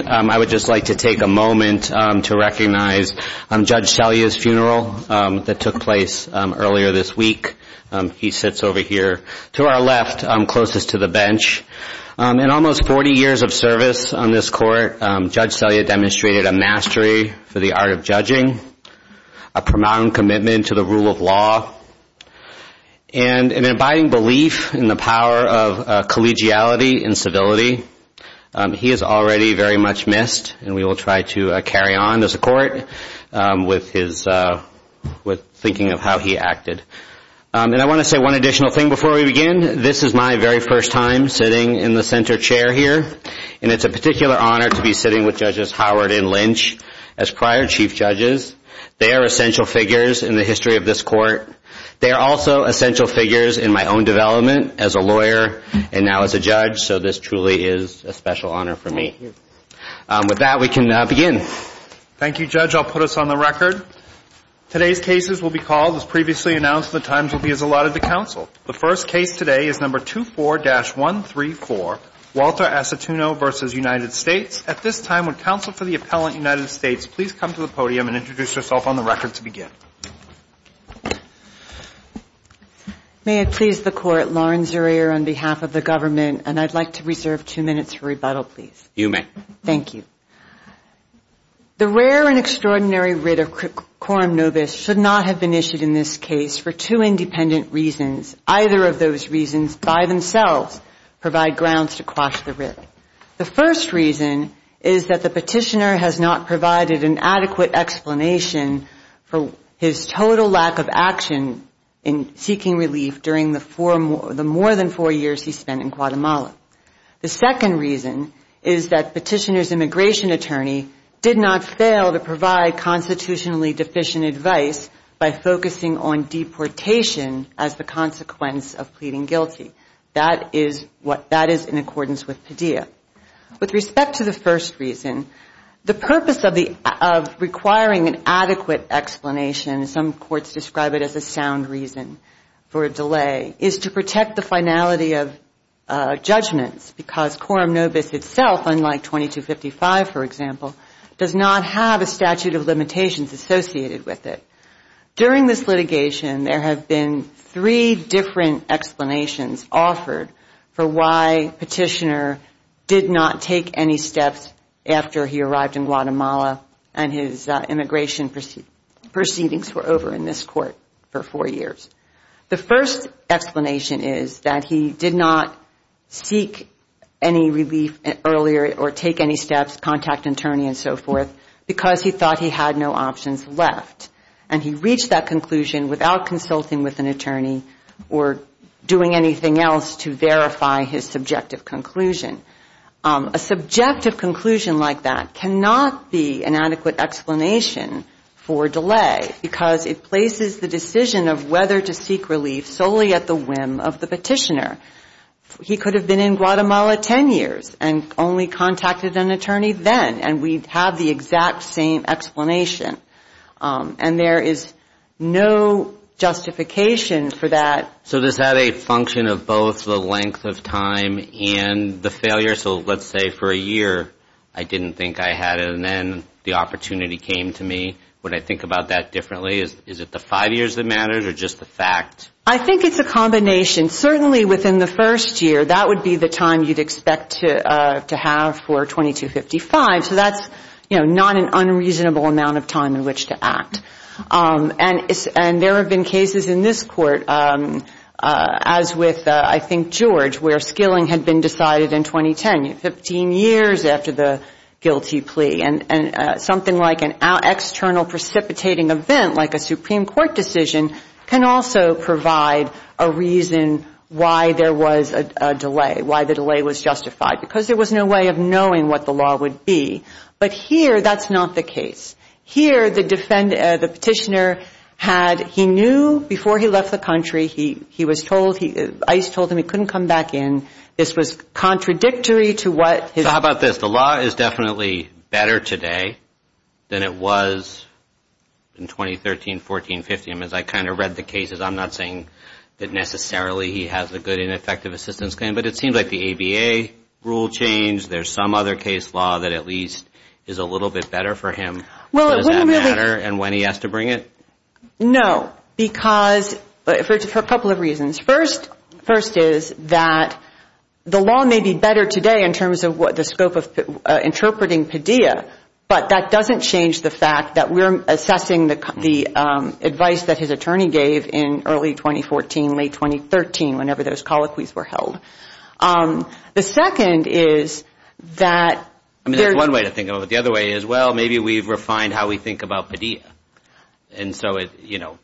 And I would just like to take a moment to recognize Judge Selya's funeral that took place earlier this week. He sits over here to our left, closest to the bench. In almost 40 years of service on this court, Judge Selya demonstrated a mastery for the art of judging, a prominent commitment to the rule of law, and an abiding belief in the power of collegiality and civility. He is already very much missed, and we will try to carry on as a court with thinking of how he acted. And I want to say one additional thing before we begin. This is my very first time sitting in the center chair here, and it's a particular honor to be sitting with Judges Howard and Lynch as prior Chief Judges. They are essential figures in the history of this court. They are also essential figures in my own development as a lawyer and now as a judge, so this truly is a special honor for me. With that, we can begin. Thank you, Judge. I'll put us on the record. Today's cases will be called, as previously announced, and the times will be as allotted to counsel. The first case today is number 24-134, Walter Aceituno v. United States. At this time, would counsel for the appellant, United States, please come to the podium and introduce yourself on the record to begin. May it please the court, Lauren Zurier on behalf of the government, and I'd like to reserve two minutes for rebuttal, please. You may. Thank you. The rare and extraordinary writ of quorum nobis should not have been issued in this case for two independent reasons. Either of those reasons by themselves provide grounds to quash the writ. The first reason is that the petitioner has not provided an adequate explanation for his total lack of action in seeking relief during the more than four years he spent in Guatemala. The second reason is that petitioner's immigration attorney did not fail to provide constitutionally deficient advice by focusing on deportation as the consequence of pleading guilty. That is in accordance with pedia. With respect to the first reason, the purpose of requiring an adequate explanation, some courts describe it as a sound reason for a delay, is to protect the finality of judgments because quorum nobis itself, unlike 2255, for example, does not have a statute of limitations associated with it. During this litigation, there have been three different explanations offered for why petitioner did not take any steps after he arrived in Guatemala and his immigration proceedings were over in this court for four years. The first explanation is that he did not seek any relief earlier or take any steps, contact an attorney and so forth, because he thought he had no options left. And he reached that conclusion without consulting with an attorney or doing anything else to verify his subjective conclusion. A subjective conclusion like that cannot be an adequate explanation for delay because it places the decision of whether to seek relief solely at the whim of the petitioner. He could have been in Guatemala ten years and only contacted an attorney then and we have the exact same explanation. And there is no justification for that. So this had a function of both the length of time and the failure. So let's say for a year I didn't think I had it and then the opportunity came to me. Would I think about that differently? Is it the five years that mattered or just the fact? I think it's a combination. Certainly within the first year, that would be the time you'd expect to have for 2255. So that's not an unreasonable amount of time in which to act. And there have been cases in this court, as with I think George, where skilling had been decided in 2010, 15 years after the guilty plea. And something like an external precipitating event like a Supreme Court decision can also provide a reason why there was a delay, why the delay was justified. Because there was no way of knowing what the law would be. But here, that's not the case. Here, the petitioner had, he knew before he left the country, he was told, ICE told him he couldn't come back in. This was contradictory to what his... So how about this? The law is definitely better today than it was in 2013, 14, 15, as I kind of read the cases. I'm not saying that necessarily he has a good and effective assistance claim, but it seems like the ABA rule changed. There's some other case law that at least is a little bit better for him. Does that matter? And when he has to bring it? No. Because, for a couple of reasons. First is that the law may be better today in terms of the scope of interpreting Padilla, but that doesn't change the fact that we're assessing the advice that his attorney gave in early 2014, late 2013, whenever those colloquies were held. The second is that... I mean, there's one way to think of it. The other way is, well, maybe we've refined how we think about Padilla. And so, you know,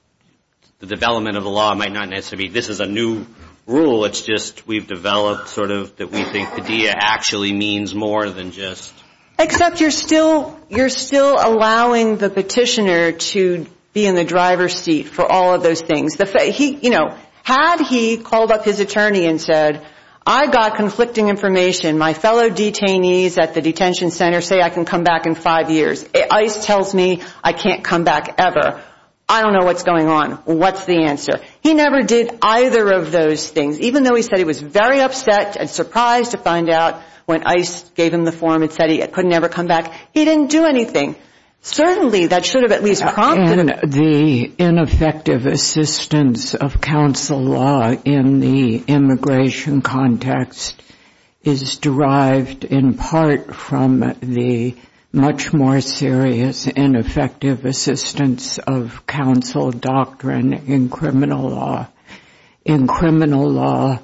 the development of the law might not necessarily... This is a new rule. It's just we've developed sort of that we think Padilla actually means more than just... Except you're still allowing the petitioner to be in the driver's seat for all of those things. You know, had he called up his attorney and said, I've got conflicting information. My fellow detainees at the detention center say I can come back in five years. ICE tells me I can't come back ever. I don't know what's going on. What's the answer? He never did either of those things, even though he said he was very upset and surprised to find out when ICE gave him the form and said he couldn't ever come back, he didn't do anything. Certainly, that should have at least prompted him. The ineffective assistance of counsel law in the immigration context is derived in part from the much more serious ineffective assistance of counsel doctrine in criminal law. In criminal law,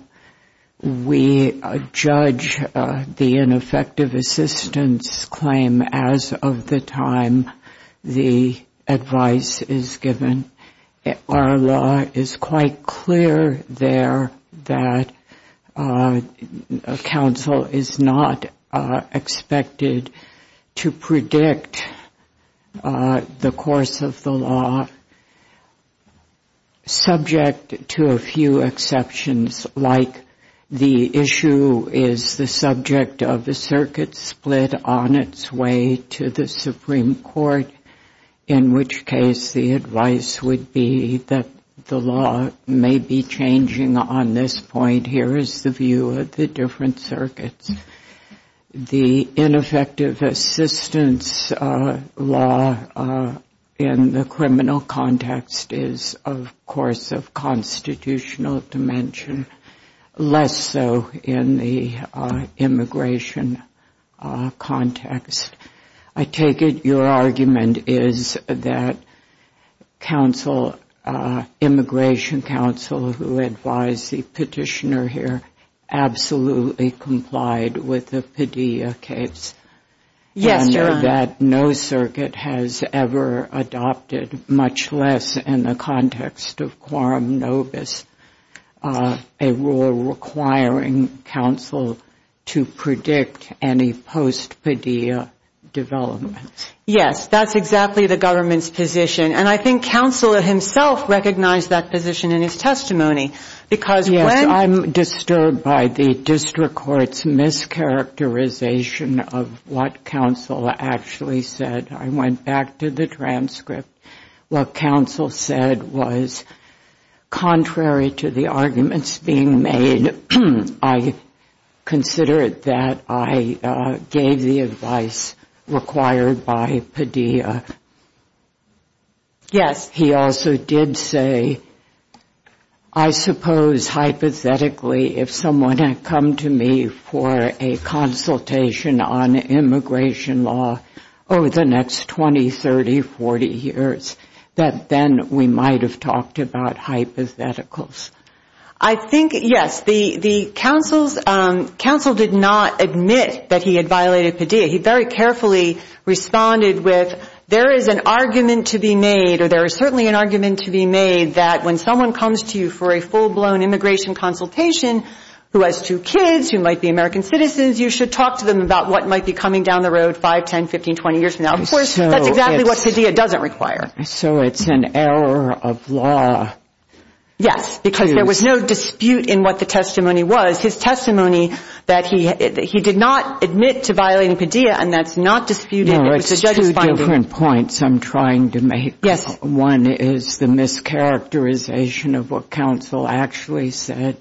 we judge the ineffective assistance claim as of the time the advice is given. Our law is quite clear there that counsel is not expected to predict the course of the law, subject to a few exceptions, like the issue is the subject of a circuit split on its way to the Supreme Court, in which case the advice would be that the law may be changing on this point. Here is the view of the different circuits. The ineffective assistance law in the criminal context is, of course, of constitutional dimension, less so in the immigration context. I take it your argument is that immigration counsel who advised the petitioner here absolutely complied with the Padilla case, and that no circuit has ever adopted, much less in the context of quorum nobis, a rule requiring counsel to predict any post-Padilla development. Yes, that's exactly the government's position. And I think counsel himself recognized that position in his testimony. Yes, I'm disturbed by the district court's mischaracterization of what counsel actually said. I went back to the transcript. What counsel said was contrary to the arguments being made, I consider it that I gave the advice required by Padilla. Yes. He also did say, I suppose hypothetically, if someone had come to me for a consultation on immigration law over the next 20, 30, 40 years, that then we might have talked about hypotheticals. I think, yes, the counsel did not admit that he had violated Padilla. He very carefully responded with, there is an argument to be made, or there is certainly an argument to be made, that when someone comes to you for a full-blown immigration consultation, who has two kids, who might be American citizens, you should talk to them about what might be coming down the road 5, 10, 15, 20 years from now. Of course, that's exactly what Padilla doesn't require. So it's an error of law. Yes, because there was no dispute in what the testimony was. His testimony that he did not admit to violating Padilla, and that's not disputed. No, it's two different points I'm trying to make. Yes. One is the mischaracterization of what counsel actually said.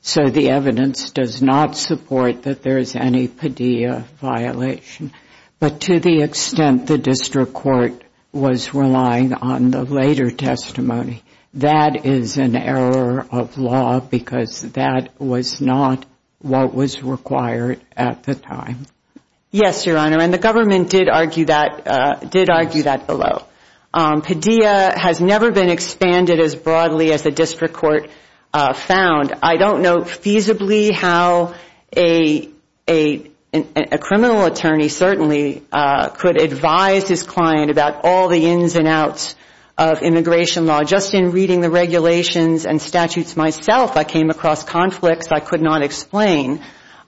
So the evidence does not support that there is any Padilla violation. But to the extent the district court was relying on the later testimony, that is an error of law, because that was not what was required at the time. Yes, Your Honor, and the government did argue that below. Padilla has never been expanded as broadly as the district court found. I don't know feasibly how a criminal attorney certainly could advise his client about all the ins and outs of immigration law. Just in reading the regulations and statutes myself, I came across conflicts I could not explain.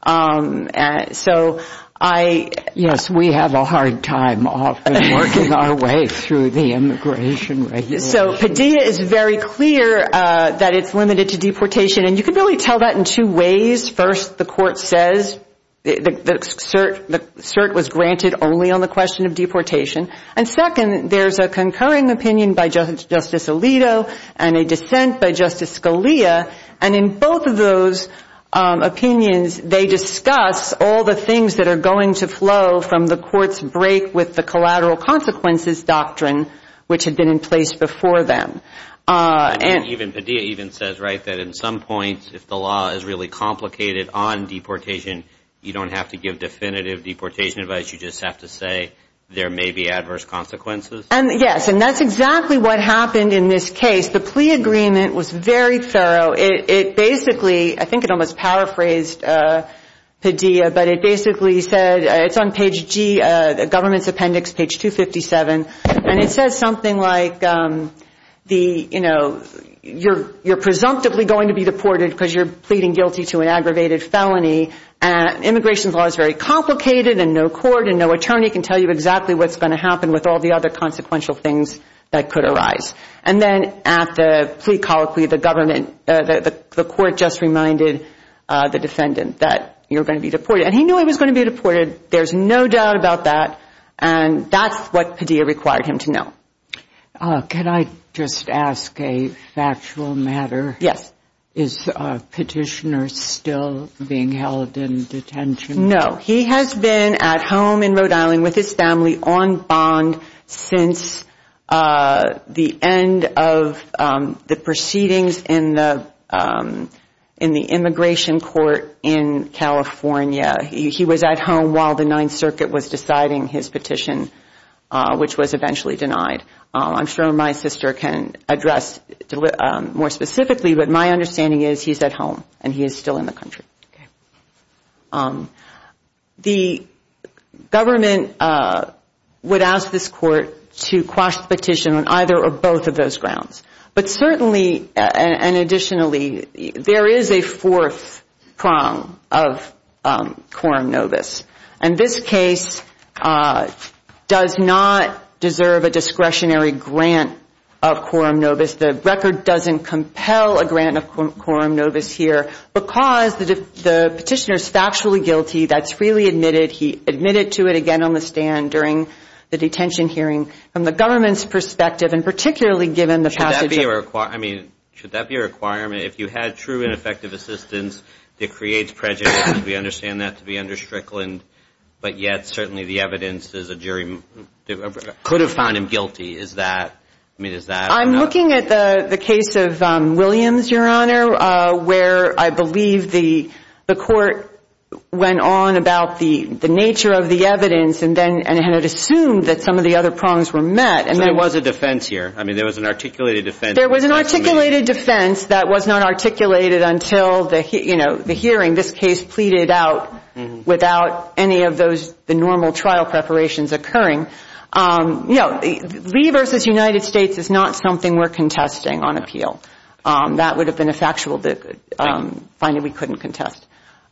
So I — Yes, we have a hard time often working our way through the immigration regulations. So Padilla is very clear that it's limited to deportation. And you could really tell that in two ways. First, the court says the cert was granted only on the question of deportation. And second, there's a concurring opinion by Justice Alito and a dissent by Justice Scalia. And in both of those opinions, they discuss all the things that are going to flow from the court's break with the collateral consequences doctrine, which had been in place before them. And even Padilla even says, right, that in some points, if the law is really complicated on deportation, you don't have to give definitive deportation advice. You just have to say there may be adverse consequences. Yes, and that's exactly what happened in this case. The plea agreement was very thorough. It basically — I think it almost paraphrased Padilla, but it basically said — it's on page G, the government's appendix, page 257. And it says something like, you know, you're presumptively going to be deported because you're pleading guilty to an aggravated felony. Immigration's law is very complicated, and no court and no attorney can tell you exactly what's going to happen with all the other consequential things that could arise. And then at the plea colloquy, the court just reminded the defendant that you're going to be deported. And he knew he was going to be deported. There's no doubt about that. And that's what Padilla required him to know. Can I just ask a factual matter? Yes. Is Petitioner still being held in detention? No. He has been at home in Rhode Island with his family on bond since the end of the proceedings in the immigration court in California. He was at home while the Ninth Circuit was deciding his petition, which was eventually denied. I'm sure my sister can address more specifically, but my understanding is he's at home and he is still in the country. Okay. The government would ask this court to quash the petition on either or both of those grounds. But certainly, and additionally, there is a fourth prong of quorum novus. And this case does not deserve a discretionary grant of quorum novus. The record doesn't compel a grant of quorum novus here because the petitioner is factually guilty. That's freely admitted. He admitted to it, again, on the stand during the detention hearing. From the government's perspective, and particularly given the passage of Should that be a requirement? If you had true and effective assistance, it creates prejudice. We understand that to be under Strickland, but yet certainly the evidence is a jury. Could have found him guilty. I'm looking at the case of Williams, Your Honor, where I believe the court went on about the nature of the evidence and had assumed that some of the other prongs were met. So there was a defense here. I mean, there was an articulated defense. There was an articulated defense that was not articulated until the hearing. This case pleaded out without any of the normal trial preparations occurring. You know, Lee v. United States is not something we're contesting on appeal. That would have been a factual finding we couldn't contest.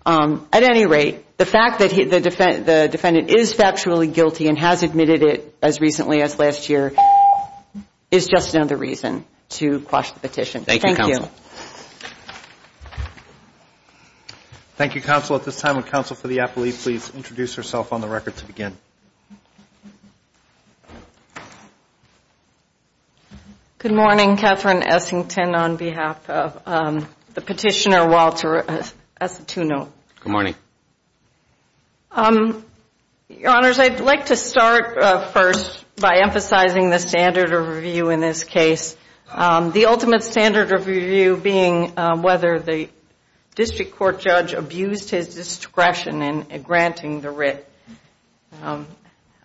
At any rate, the fact that the defendant is factually guilty and has admitted it as recently as last year is just another reason to quash the petition. Thank you. Thank you, Counsel. Thank you, Counsel. At this time, would Counsel for the appellee please introduce herself on the record to begin? Good morning. Catherine Essington on behalf of the petitioner, Walter Asituno. Good morning. Your Honors, I'd like to start first by emphasizing the standard of review in this case. The ultimate standard of review being whether the district court judge abused his discretion in granting the writ.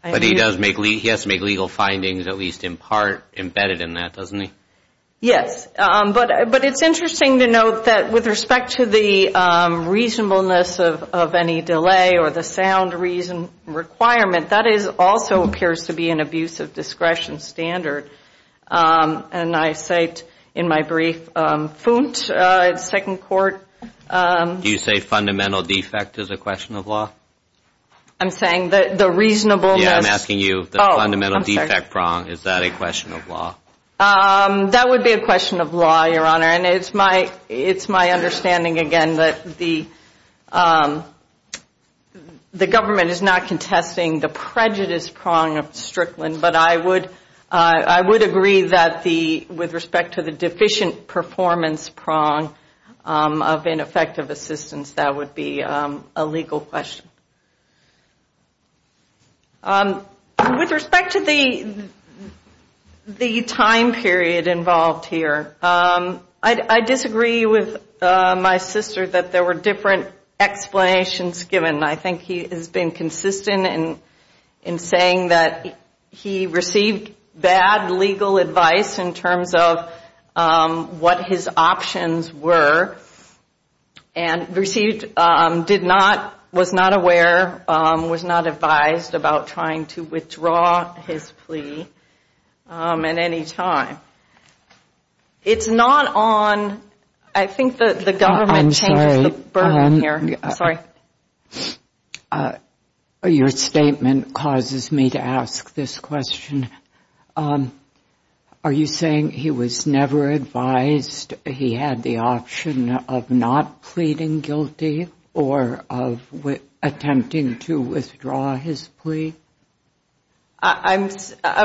But he has to make legal findings at least in part embedded in that, doesn't he? Yes. But it's interesting to note that with respect to the reasonableness of any delay or the sound reason requirement, that also appears to be an abuse of discretion standard. And I cite in my brief, Fount, second court. Do you say fundamental defect is a question of law? I'm saying that the reasonableness. Yeah, I'm asking you. The fundamental defect prong, is that a question of law? That would be a question of law, Your Honor. And it's my understanding, again, that the government is not contesting the prejudice prong of Strickland. But I would agree that with respect to the deficient performance prong of ineffective assistance, that would be a legal question. With respect to the time period involved here, I disagree with my sister that there were different explanations given. I think he has been consistent in saying that he received bad legal advice in terms of what his options were. And received, did not, was not aware, was not advised about trying to withdraw his plea at any time. It's not on, I think the government changed the burden here. Sorry. Your statement causes me to ask this question. Are you saying he was never advised he had the option of not pleading guilty or of attempting to withdraw his plea? I'm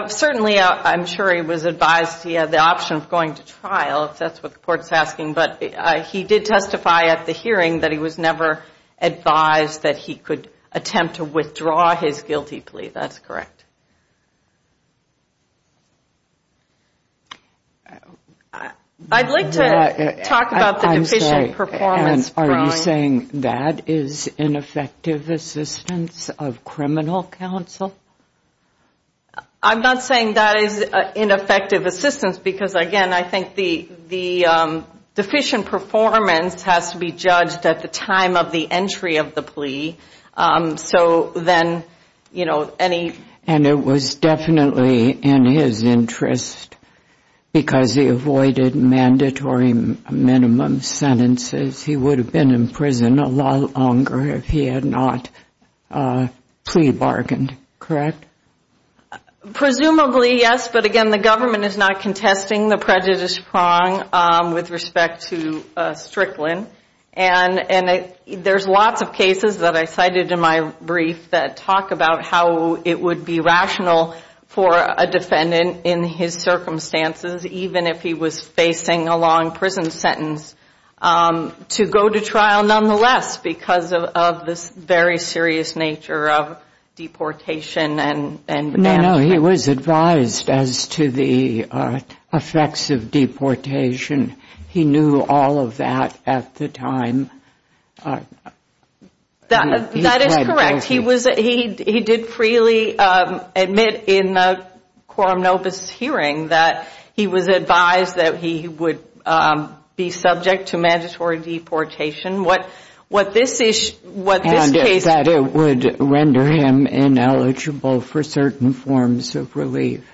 certainly, I'm sure he was advised he had the option of going to trial, if that's what the court's asking. But he did testify at the hearing that he was never advised that he could attempt to withdraw his guilty plea. That's correct. I'd like to talk about the deficient performance prong. Are you saying that is ineffective assistance of criminal counsel? I'm not saying that is ineffective assistance because, again, I think the deficient performance has to be judged at the time of the entry of the plea. So then, you know, any. And it was definitely in his interest because he avoided mandatory minimum sentences. He would have been in prison a lot longer if he had not plea bargained, correct? Presumably, yes. But, again, the government is not contesting the prejudice prong with respect to Strickland. And there's lots of cases that I cited in my brief that talk about how it would be rational for a defendant in his circumstances, even if he was facing a long prison sentence, to go to trial nonetheless because of this very serious nature of deportation. No, he was advised as to the effects of deportation. He knew all of that at the time. That is correct. He did freely admit in the Quorum Novus hearing that he was advised that he would be subject to mandatory deportation. What this case. And that it would render him ineligible for certain forms of relief.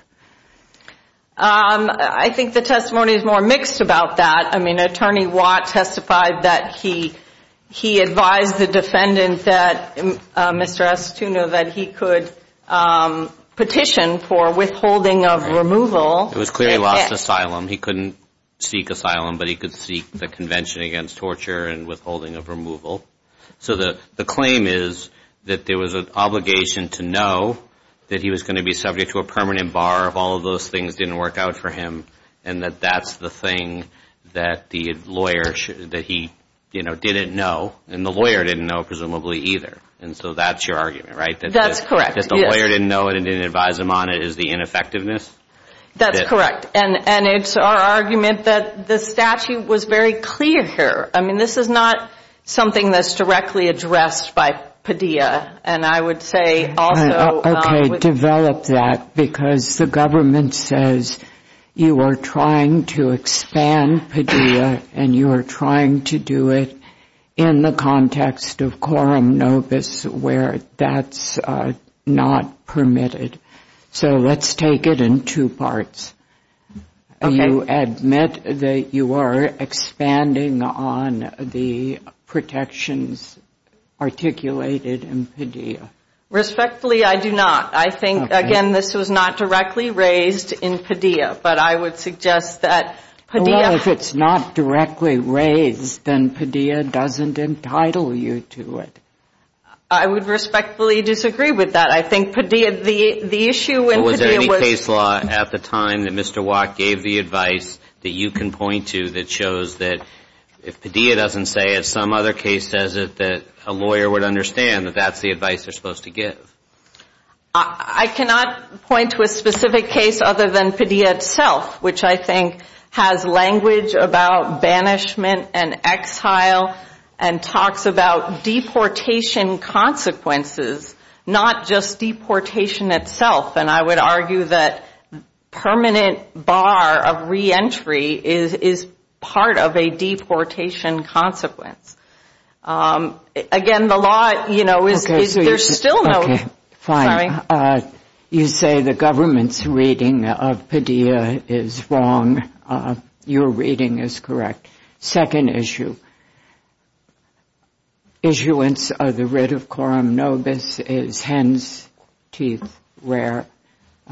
I think the testimony is more mixed about that. I mean, Attorney Watt testified that he advised the defendant that, Mr. Astutino, that he could petition for withholding of removal. It was clearly lost asylum. He couldn't seek asylum, but he could seek the Convention Against Torture and Withholding of Removal. So the claim is that there was an obligation to know that he was going to be subject to a permanent bar. All of those things didn't work out for him. And that that's the thing that the lawyer, that he, you know, didn't know. And the lawyer didn't know, presumably, either. And so that's your argument, right? That's correct. That the lawyer didn't know it and didn't advise him on it is the ineffectiveness? That's correct. And it's our argument that the statute was very clear here. I mean, this is not something that's directly addressed by Padilla. And I would say also with Okay, develop that, because the government says you are trying to expand Padilla and you are trying to do it in the context of quorum nobis where that's not permitted. So let's take it in two parts. You admit that you are expanding on the protections articulated in Padilla. Respectfully, I do not. I think, again, this was not directly raised in Padilla. But I would suggest that Padilla Well, if it's not directly raised, then Padilla doesn't entitle you to it. I would respectfully disagree with that. I think Padilla, the issue in Padilla was at the time that Mr. Watt gave the advice that you can point to that shows that if Padilla doesn't say it, some other case says it, that a lawyer would understand that that's the advice they're supposed to give. I cannot point to a specific case other than Padilla itself, which I think has language about banishment and exile and talks about deportation consequences, not just deportation itself. And I would argue that permanent bar of reentry is part of a deportation consequence. Again, the law, you know, there's still no Okay, fine. You say the government's reading of Padilla is wrong. Your reading is correct. Second issue. Issuance of the writ of coram nobis is hen's teeth rare.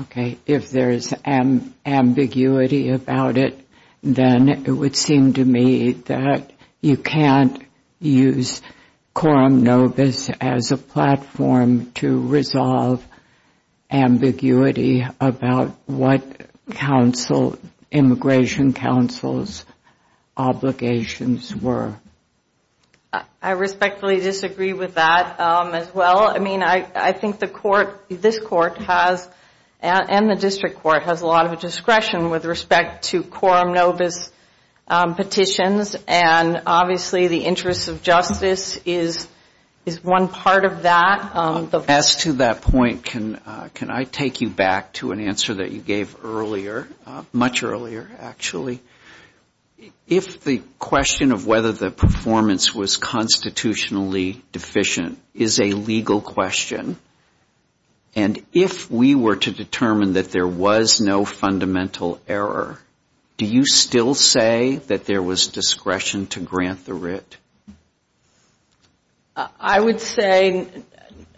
Okay. If there is ambiguity about it, then it would seem to me that you can't use coram nobis as a platform to resolve ambiguity about what immigration counsel's obligations were. I respectfully disagree with that as well. I mean, I think this court and the district court has a lot of discretion with respect to coram nobis petitions, and obviously the interest of justice is one part of that. As to that point, can I take you back to an answer that you gave earlier, much earlier, actually? If the question of whether the performance was constitutionally deficient is a legal question, and if we were to determine that there was no fundamental error, do you still say that there was discretion to grant the writ? I would say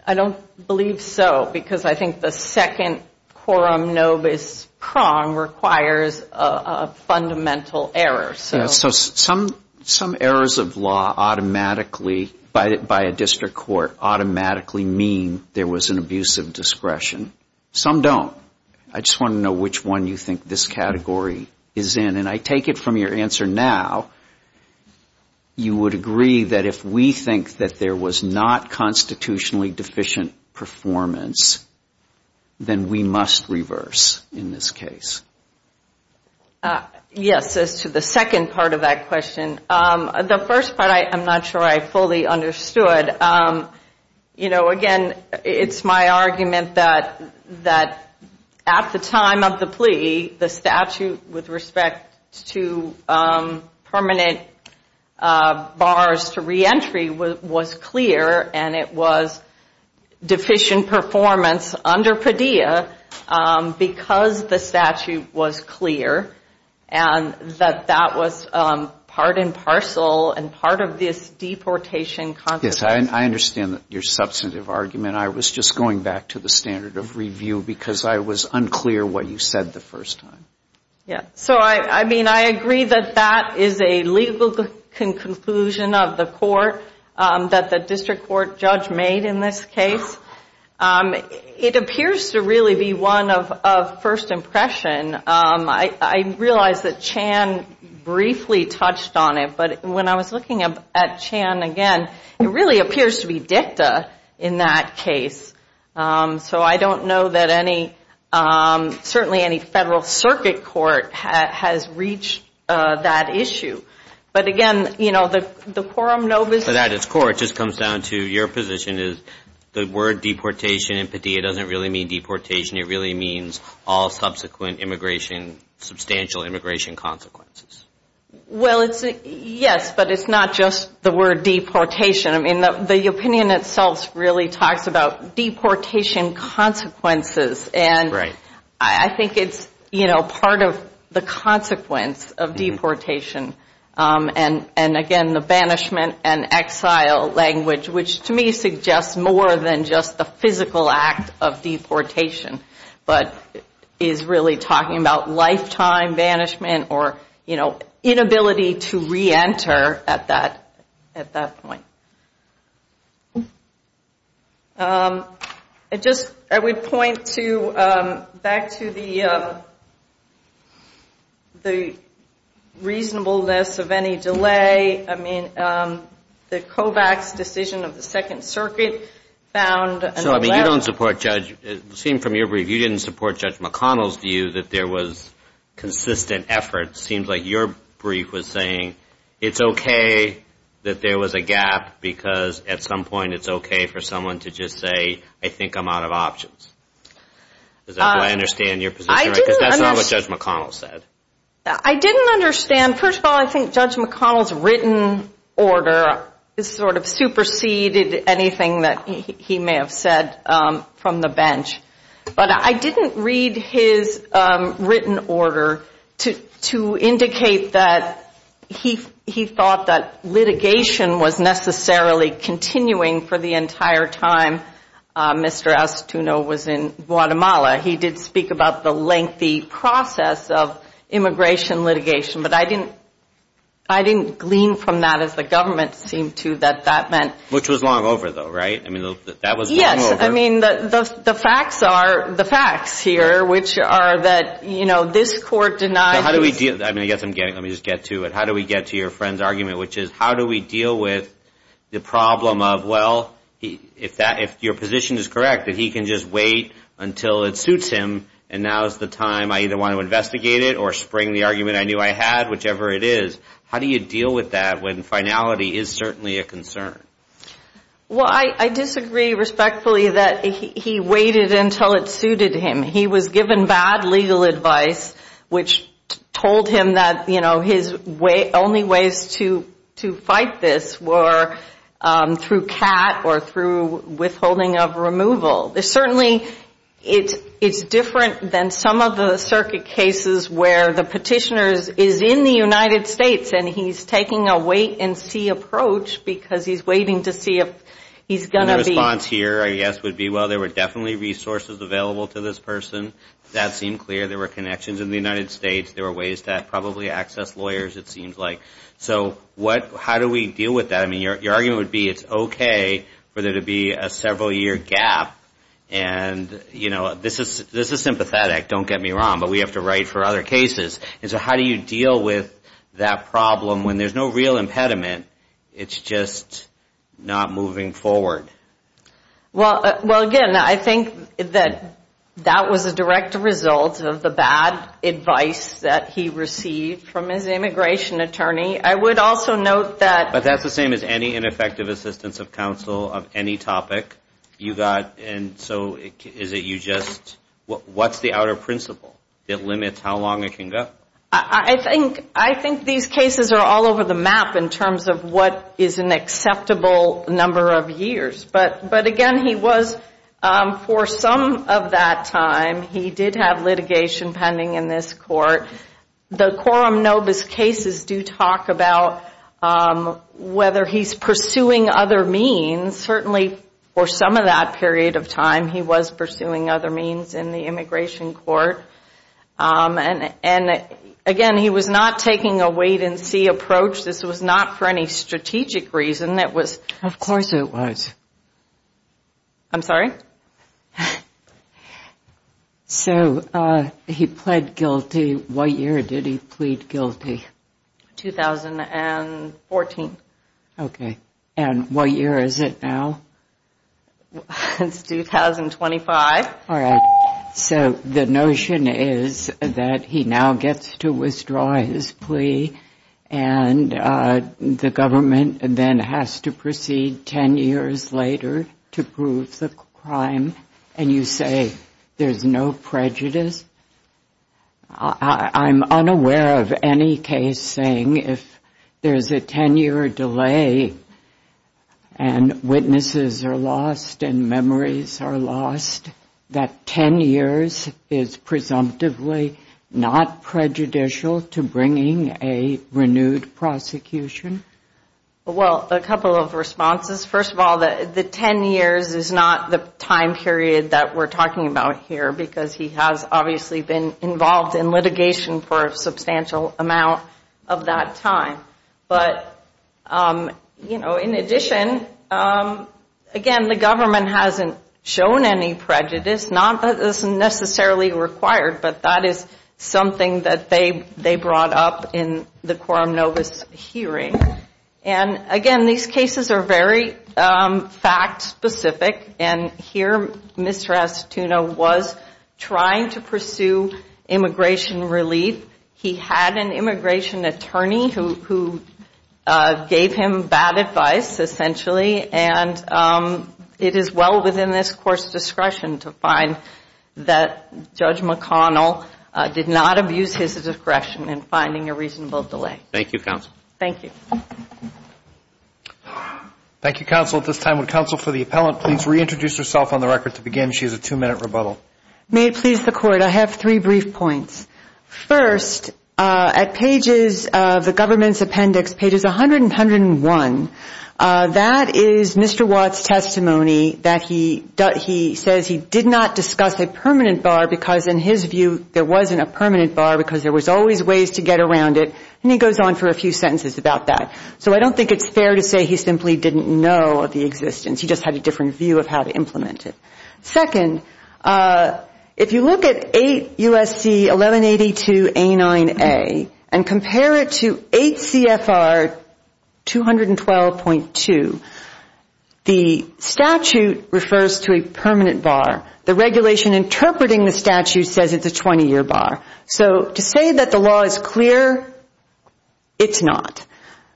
I don't believe so because I think the second coram nobis prong requires a fundamental error. So some errors of law automatically by a district court automatically mean there was an abuse of discretion. Some don't. I just want to know which one you think this category is in, and I take it from your answer now, you would agree that if we think that there was not constitutionally deficient performance, then we must reverse in this case. Yes, as to the second part of that question, the first part I'm not sure I fully understood. You know, again, it's my argument that at the time of the plea, the statute with respect to permanent bars to reentry was clear, and it was deficient performance under Padilla because the statute was clear, and that that was part and parcel and part of this deportation. Yes, I understand your substantive argument. I was just going back to the standard of review because I was unclear what you said the first time. Yeah, so I mean I agree that that is a legal conclusion of the court that the district court judge made in this case. It appears to really be one of first impression. I realize that Chan briefly touched on it, but when I was looking at Chan again, it really appears to be dicta in that case. So I don't know that any, certainly any federal circuit court has reached that issue. But again, you know, the quorum no position. But at its core it just comes down to your position is the word deportation in Padilla doesn't really mean deportation. It really means all subsequent immigration, substantial immigration consequences. Well, yes, but it's not just the word deportation. I mean the opinion itself really talks about deportation consequences, and I think it's, you know, part of the consequence of deportation. And again, the banishment and exile language, which to me suggests more than just the physical act of deportation, but is really talking about lifetime banishment or, you know, inability to reenter at that point. I just, I would point to, back to the reasonableness of any delay. I mean, the COVAX decision of the Second Circuit found. So, I mean, you don't support Judge, it seemed from your brief, you didn't support Judge McConnell's view that there was consistent effort. It seems like your brief was saying it's okay that there was a gap, because at some point it's okay for someone to just say, I think I'm out of options. Does that, do I understand your position? Because that's not what Judge McConnell said. I didn't understand. First of all, I think Judge McConnell's written order sort of superseded anything that he may have said from the bench. But I didn't read his written order to indicate that he thought that litigation was necessarily continuing for the entire time Mr. Astutino was in Guatemala. He did speak about the lengthy process of immigration litigation. But I didn't glean from that, as the government seemed to, that that meant. Which was long over, though, right? I mean, that was long over. I mean, the facts are, the facts here, which are that, you know, this court denied. How do we deal, I mean, I guess I'm getting, let me just get to it. How do we get to your friend's argument, which is how do we deal with the problem of, well, if your position is correct, that he can just wait until it suits him and now is the time I either want to investigate it or spring the argument I knew I had, whichever it is. How do you deal with that when finality is certainly a concern? Well, I disagree respectfully that he waited until it suited him. He was given bad legal advice, which told him that, you know, his only ways to fight this were through CAT or through withholding of removal. There's certainly, it's different than some of the circuit cases where the petitioner is in the United States and he's taking a wait and see approach because he's waiting to see if he's going to be. My response here, I guess, would be, well, there were definitely resources available to this person. That seemed clear. There were connections in the United States. There were ways to probably access lawyers, it seems like. So what, how do we deal with that? I mean, your argument would be it's okay for there to be a several-year gap. And, you know, this is sympathetic, don't get me wrong, but we have to write for other cases. And so how do you deal with that problem when there's no real impediment, it's just not moving forward? Well, again, I think that that was a direct result of the bad advice that he received from his immigration attorney. I would also note that. But that's the same as any ineffective assistance of counsel of any topic you got. And so is it you just, what's the outer principle that limits how long it can go? I think these cases are all over the map in terms of what is an acceptable number of years. But, again, he was, for some of that time, he did have litigation pending in this court. The quorum nobis cases do talk about whether he's pursuing other means. Certainly for some of that period of time he was pursuing other means in the immigration court. And, again, he was not taking a wait and see approach. This was not for any strategic reason. Of course it was. I'm sorry? So he pled guilty. What year did he plead guilty? 2014. Okay. And what year is it now? It's 2025. All right. So the notion is that he now gets to withdraw his plea and the government then has to proceed ten years later to prove the crime. And you say there's no prejudice? I'm unaware of any case saying if there's a ten-year delay and witnesses are lost and memories are lost, that ten years is presumptively not prejudicial to bringing a renewed prosecution? Well, a couple of responses. First of all, the ten years is not the time period that we're talking about here because he has obviously been involved in litigation for a substantial amount of that time. But, you know, in addition, again, the government hasn't shown any prejudice. Not that this is necessarily required, but that is something that they brought up in the quorum nobis hearing. And, again, these cases are very fact-specific. And here Mr. Asituna was trying to pursue immigration relief. He had an immigration attorney who gave him bad advice, essentially, and it is well within this Court's discretion to find that Judge McConnell did not abuse his discretion in finding a reasonable delay. Thank you, Counsel. Thank you. Thank you, Counsel. At this time, would Counsel for the Appellant please reintroduce herself on the record to begin? She has a two-minute rebuttal. May it please the Court, I have three brief points. First, at pages of the government's appendix, pages 100 and 101, that is Mr. Watt's testimony that he says he did not discuss a permanent bar because, in his view, there wasn't a permanent bar because there was always ways to get around it. And he goes on for a few sentences about that. So I don't think it's fair to say he simply didn't know of the existence. He just had a different view of how to implement it. Second, if you look at 8 U.S.C. 1182A9A and compare it to 8 CFR 212.2, the statute refers to a permanent bar. The regulation interpreting the statute says it's a 20-year bar. So to say that the law is clear, it's not.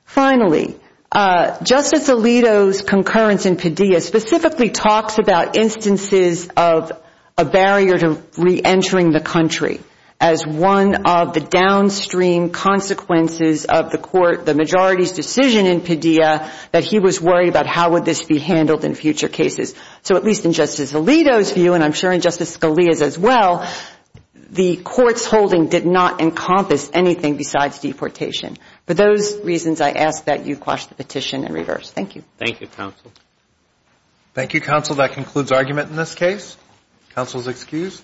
Finally, Justice Alito's concurrence in Padilla specifically talks about instances of a barrier to reentering the country as one of the downstream consequences of the court, the majority's decision in Padilla, that he was worried about how would this be handled in future cases. So at least in Justice Alito's view, and I'm sure in Justice Scalia's as well, the court's holding did not encompass anything besides deportation. For those reasons, I ask that you quash the petition in reverse. Thank you. Thank you, counsel. Thank you, counsel. That concludes argument in this case. Counsel is excused.